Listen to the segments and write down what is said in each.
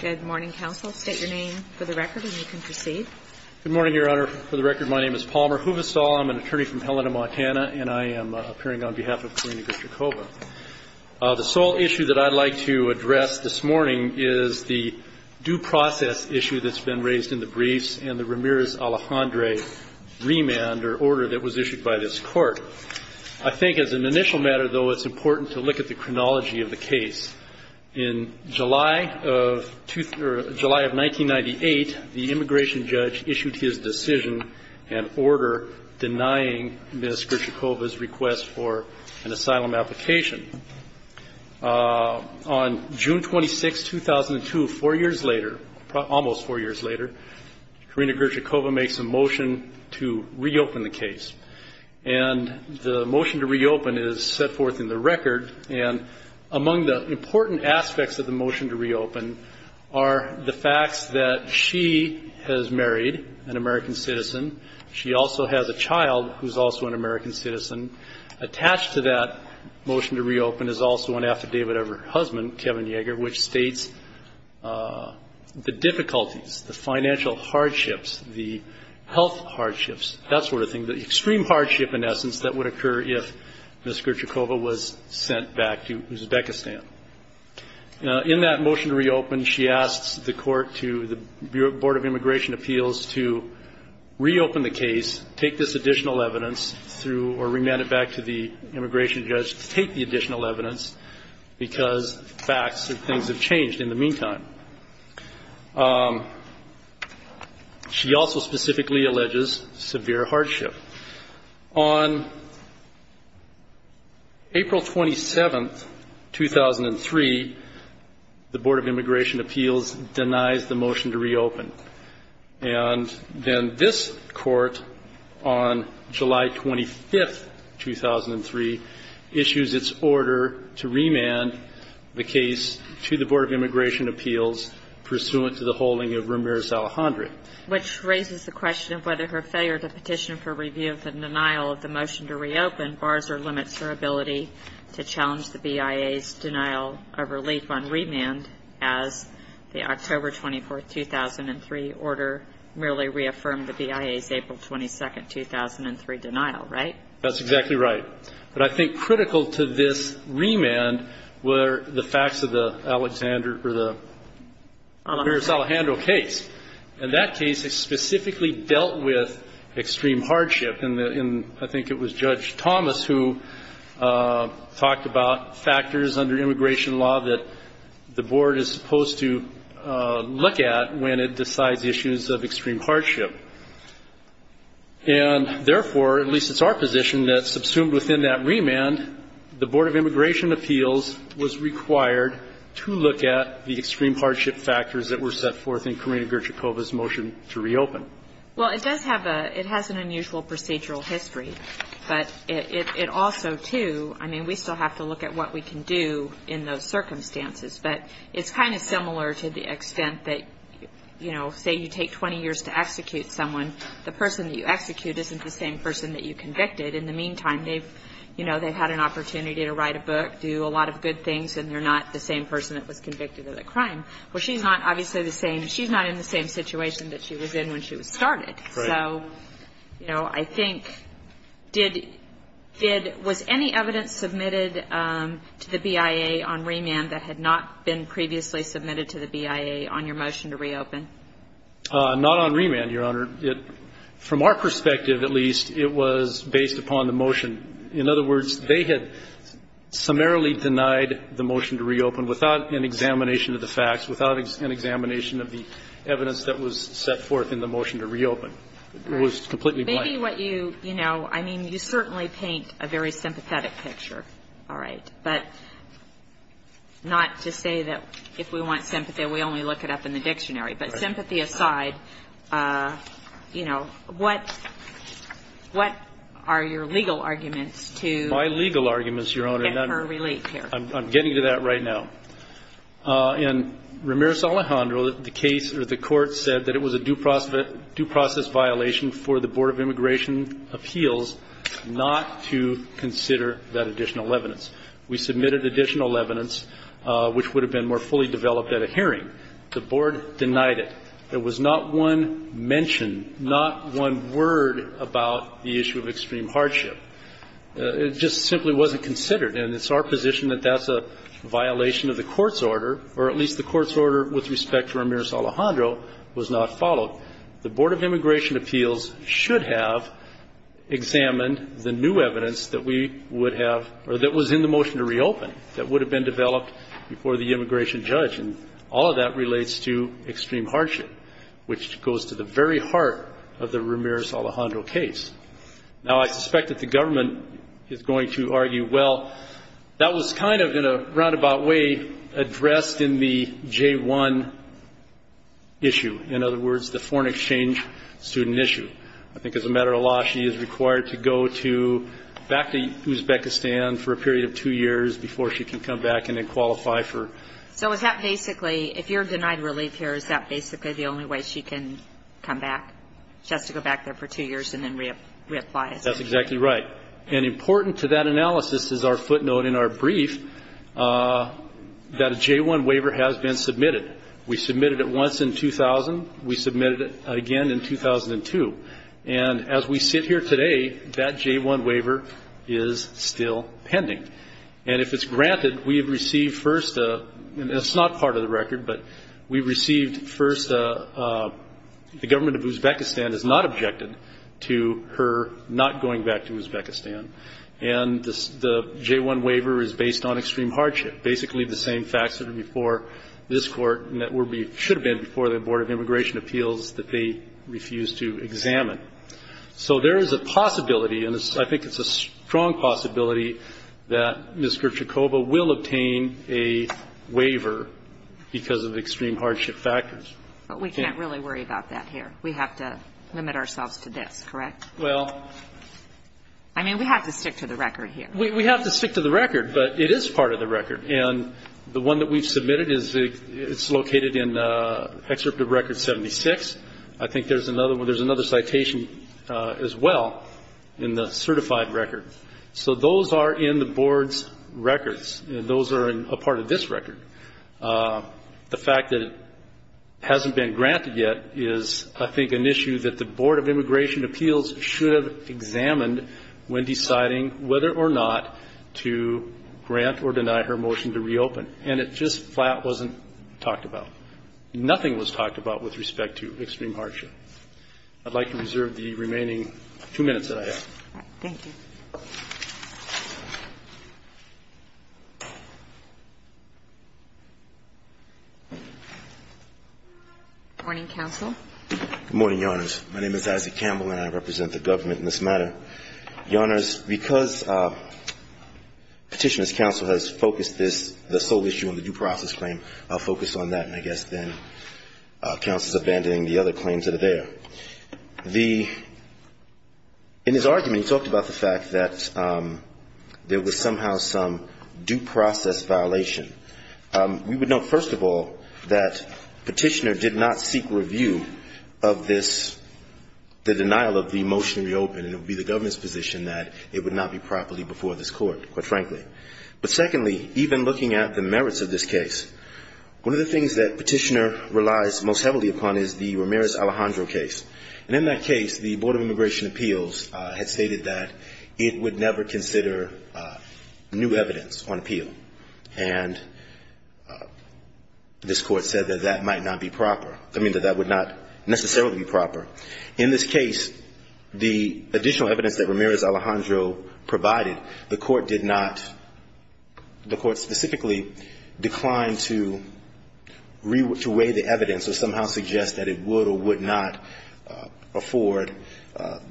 Good morning, counsel. State your name for the record and you can proceed. Good morning, Your Honor. For the record, my name is Palmer Huvestal. I'm an attorney from Helena, Montana, and I am appearing on behalf of Karina Grychikova. The sole issue that I'd like to address this morning is the due process issue that's been raised in the briefs and the Ramirez Alejandre remand or order that was issued by this Court. I think as an initial matter, though, it's important to look at the chronology of the case. In July of 1998, the immigration judge issued his decision and order denying Ms. Grychikova's request for an asylum application. On June 26, 2002, four years later, almost four years later, Karina Grychikova makes a motion to reopen the case, and the motion to reopen is set forth in the brief. Among the important aspects of the motion to reopen are the facts that she has married an American citizen, she also has a child who's also an American citizen. Attached to that motion to reopen is also an affidavit of her husband, Kevin Yeager, which states the difficulties, the financial hardships, the health hardships, that sort of thing, the extreme hardship, in essence, that would occur if Ms. Grychikova were to return to Uzbekistan. In that motion to reopen, she asks the Court to, the Board of Immigration Appeals, to reopen the case, take this additional evidence through, or remand it back to the immigration judge to take the additional evidence, because facts and things have changed in the meantime. She also specifically alleges severe hardship. On April 27, 2003, the Board of Immigration Appeals denies the motion to reopen. And then this Court, on July 25, 2003, issues its order to remand the case to the Board of Immigration Appeals pursuant to the holding of Ramirez-Alejandre. Which raises the question of whether her failure to petition for review of the denial of the motion to reopen bars or limits her ability to challenge the BIA's denial of relief on remand, as the October 24, 2003, order merely reaffirmed the BIA's April 22, 2003, denial, right? That's exactly right. But I think critical to this remand were the facts of the Alexander, or the Ramirez-Alejandre case. And that case specifically dealt with extreme hardship. And I think it was Judge Thomas who talked about factors under immigration law that the Board is supposed to look at when it decides issues of extreme hardship. And therefore, at least it's our position, that subsumed within that remand, the Board of Immigration Appeals was required to look at the extreme hardship factors that were set forth in Karina Gerchakova's motion to reopen. Well, it does have a – it has an unusual procedural history. But it also, too – I mean, we still have to look at what we can do in those circumstances. But it's kind of similar to the extent that, you know, say you take 20 years to execute someone, the person that you execute isn't the same person that you convicted. In the meantime, they've, you know, they've had an opportunity to write a book, do a lot of good things, and they're not the same person that was convicted of the crime. Well, she's not obviously the same – she's not in the same situation that she was in when she was started. Right. So, you know, I think – did – was any evidence submitted to the BIA on remand that had not been previously submitted to the BIA on your motion to reopen? Not on remand, Your Honor. It – from our perspective, at least, it was based upon the motion. In other words, they had summarily denied the motion to reopen without an examination of the facts, without an examination of the evidence that was set forth in the motion to reopen. It was completely blank. Maybe what you – you know, I mean, you certainly paint a very sympathetic picture, all right? But not to say that if we want sympathy, we only look it up in the dictionary. But sympathy aside, you know, what – what are your legal arguments to get her released here? My legal arguments, Your Honor – I'm getting to that right now. In Ramirez-Alejandro, the case – or the court said that it was a due process violation for the Board of Immigration Appeals not to consider that additional evidence. We submitted additional evidence, which would have been more fully developed at a hearing. The board denied it. There was not one mention, not one word about the issue of extreme hardship. It just simply wasn't considered. And it's our position that that's a violation of the court's order, or at least the court's order with respect to Ramirez-Alejandro was not followed. The Board of Immigration Appeals should have examined the new evidence that we would have – or that was in the motion to reopen that would have been developed before the immigration judge. And all of that relates to extreme hardship, which goes to the very heart of the Ramirez-Alejandro case. Now, I suspect that the government is going to argue, well, that was kind of in a roundabout way addressed in the J-1 issue. In other words, the foreign exchange student issue. I think as a matter of law, she is required to go to – back to Uzbekistan for a period of two years before she can come back and then qualify for – So is that basically – if you're denied relief here, is that basically the only way she can come back? She has to go back there for two years and then reapply. That's exactly right. And important to that analysis is our footnote in our brief that a J-1 waiver has been submitted. We submitted it once in 2000. We submitted it again in 2002. And as we sit here today, that J-1 waiver is still pending. And if it's granted, we have received first – and it's not part of the record, but we received first – the government of Uzbekistan has not objected to her not going back to Uzbekistan. And the J-1 waiver is based on extreme hardship, basically the same facts that are before this Court and that should have been before the Board of Immigration Appeals that they refused to examine. So there is a possibility, and I think it's a strong possibility, that Ms. But we can't really worry about that here. We have to limit ourselves to this, correct? I mean, we have to stick to the record here. We have to stick to the record, but it is part of the record. And the one that we've submitted is located in Excerpt of Record 76. I think there's another citation as well in the certified record. So those are in the Board's records. Those are a part of this record. The fact that it hasn't been granted yet is, I think, an issue that the Board of Immigration Appeals should have examined when deciding whether or not to grant or deny her motion to reopen. And it just flat wasn't talked about. Nothing was talked about with respect to extreme hardship. I'd like to reserve the remaining two minutes that I have. Thank you. Morning, counsel. Good morning, Your Honors. My name is Isaac Campbell, and I represent the government in this matter. Your Honors, because Petitioner's counsel has focused this, the sole issue on the due process claim, focused on that, and I guess then counsel is abandoning the other claims that are there. The, in his argument, he talked about the fact that there was somehow some due process violation. We would note, first of all, that Petitioner did not seek review of this, the denial of the motion to reopen. And it would be the government's position that it would not be properly before this court, quite frankly. But secondly, even looking at the merits of this case, one of the things that Petitioner relies most heavily upon is the Ramirez-Alejandro case. And in that case, the Board of Immigration Appeals had stated that it would never consider new evidence on appeal. And this court said that that might not be proper. I mean, that that would not necessarily be proper. In this case, the additional evidence that Ramirez-Alejandro provided, the court did somehow suggest that it would or would not afford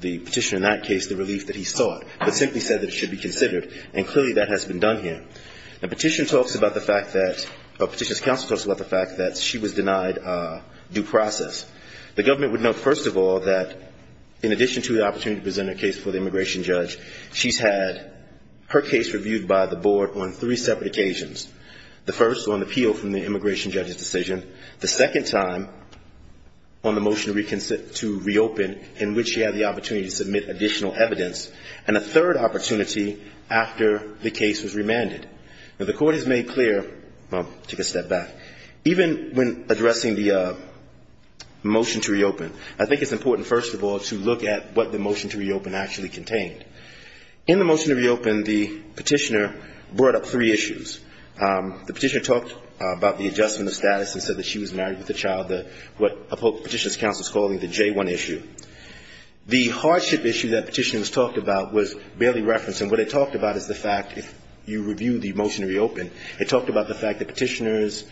the Petitioner in that case the relief that he sought, but simply said that it should be considered. And clearly that has been done here. Now, Petitioner talks about the fact that, or Petitioner's counsel talks about the fact that she was denied due process. The government would note, first of all, that in addition to the opportunity to present a case for the immigration judge, she's had her case reviewed by the board on three separate occasions. The first on appeal from the immigration judge's decision. The second time on the motion to reopen in which she had the opportunity to submit additional evidence. And a third opportunity after the case was remanded. Now, the court has made clear, well, take a step back, even when addressing the motion to reopen, I think it's important, first of all, to look at what the motion to reopen actually contained. In the motion to reopen, the Petitioner brought up three issues. The Petitioner talked about the adjustment of status and said that she was married with a child, what Petitioner's counsel is calling the J-1 issue. The hardship issue that Petitioner has talked about was barely referenced. And what it talked about is the fact, if you review the motion to reopen, it talked about the fact that Petitioner's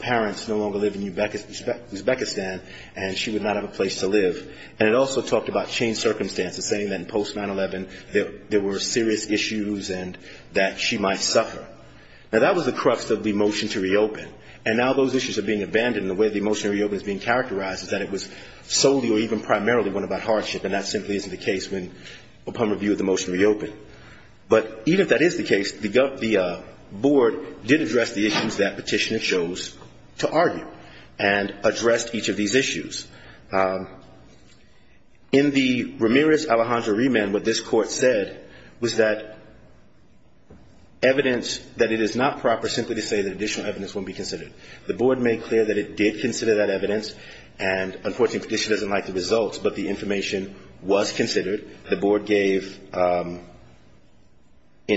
parents no longer live in Uzbekistan and she would not have a place to live. And it also talked about changed circumstances, saying that in post-9-11 there were serious issues and that she might suffer. Now, that was the crux of the motion to reopen. And now those issues are being abandoned and the way the motion to reopen is being characterized is that it was solely or even primarily one about hardship and that simply isn't the case when, upon review of the motion to reopen. But even if that is the case, the Board did address the issues that Petitioner chose to argue and addressed each of these issues. In the Ramirez-Alejandro remand, what this Court said was that evidence that it is not proper simply to say that additional evidence won't be considered. The Board made clear that it did consider that evidence and, unfortunately, Petitioner doesn't like the results, but the information was considered. The Board gave, in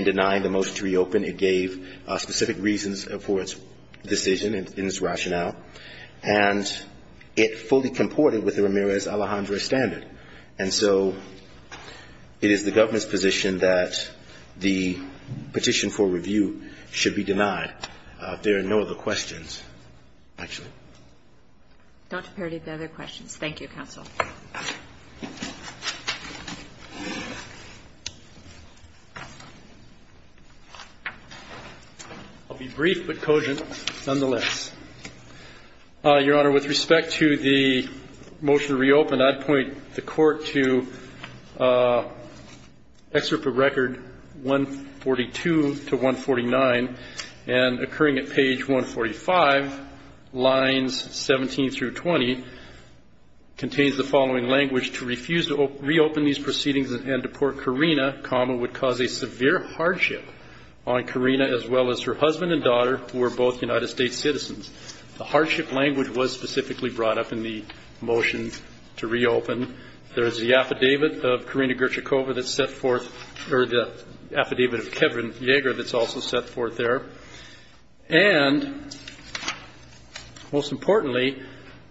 denying the motion to reopen, it gave specific reasons for its decision in its rationale, and it fully comported with the Ramirez-Alejandro standard. And so it is the government's position that the petition for review should be denied. There are no other questions, actually. Dr. Paradis, do you have any other questions? Thank you, Counsel. I'll be brief but cogent, nonetheless. Your Honor, with respect to the motion to reopen, I'd point the Court to Excerpt of Record 142 to 149. And occurring at page 145, lines 17 through 20, contains the following language. To refuse to reopen these proceedings and deport Karina, comma, would cause a severe hardship on Karina, as well as her husband and daughter, who are both United States citizens. The hardship language was specifically brought up in the motion to reopen. There is the affidavit of Karina Gertchikova that's set forth, or the affidavit of Kevin Yeager that's also set forth there. And, most importantly,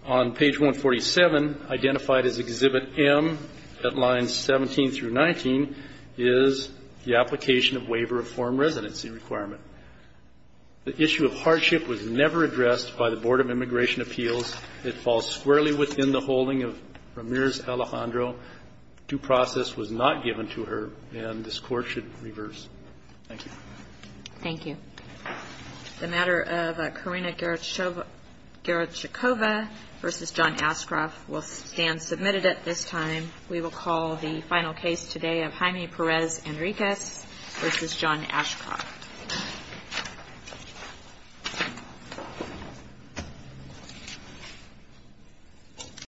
on page 147, identified as Exhibit M, at lines 17 through 19, is the application of waiver of foreign residency requirement. The issue of hardship was never addressed by the Board of Immigration Appeals. It falls squarely within the holding of Ramirez-Alejandro. Due process was not given to her, and this Court should reverse. Thank you. Thank you. The matter of Karina Gertchikova v. John Ashcroft will stand submitted at this time. We will call the final case today of Jaime Perez Enriquez v. John Ashcroft.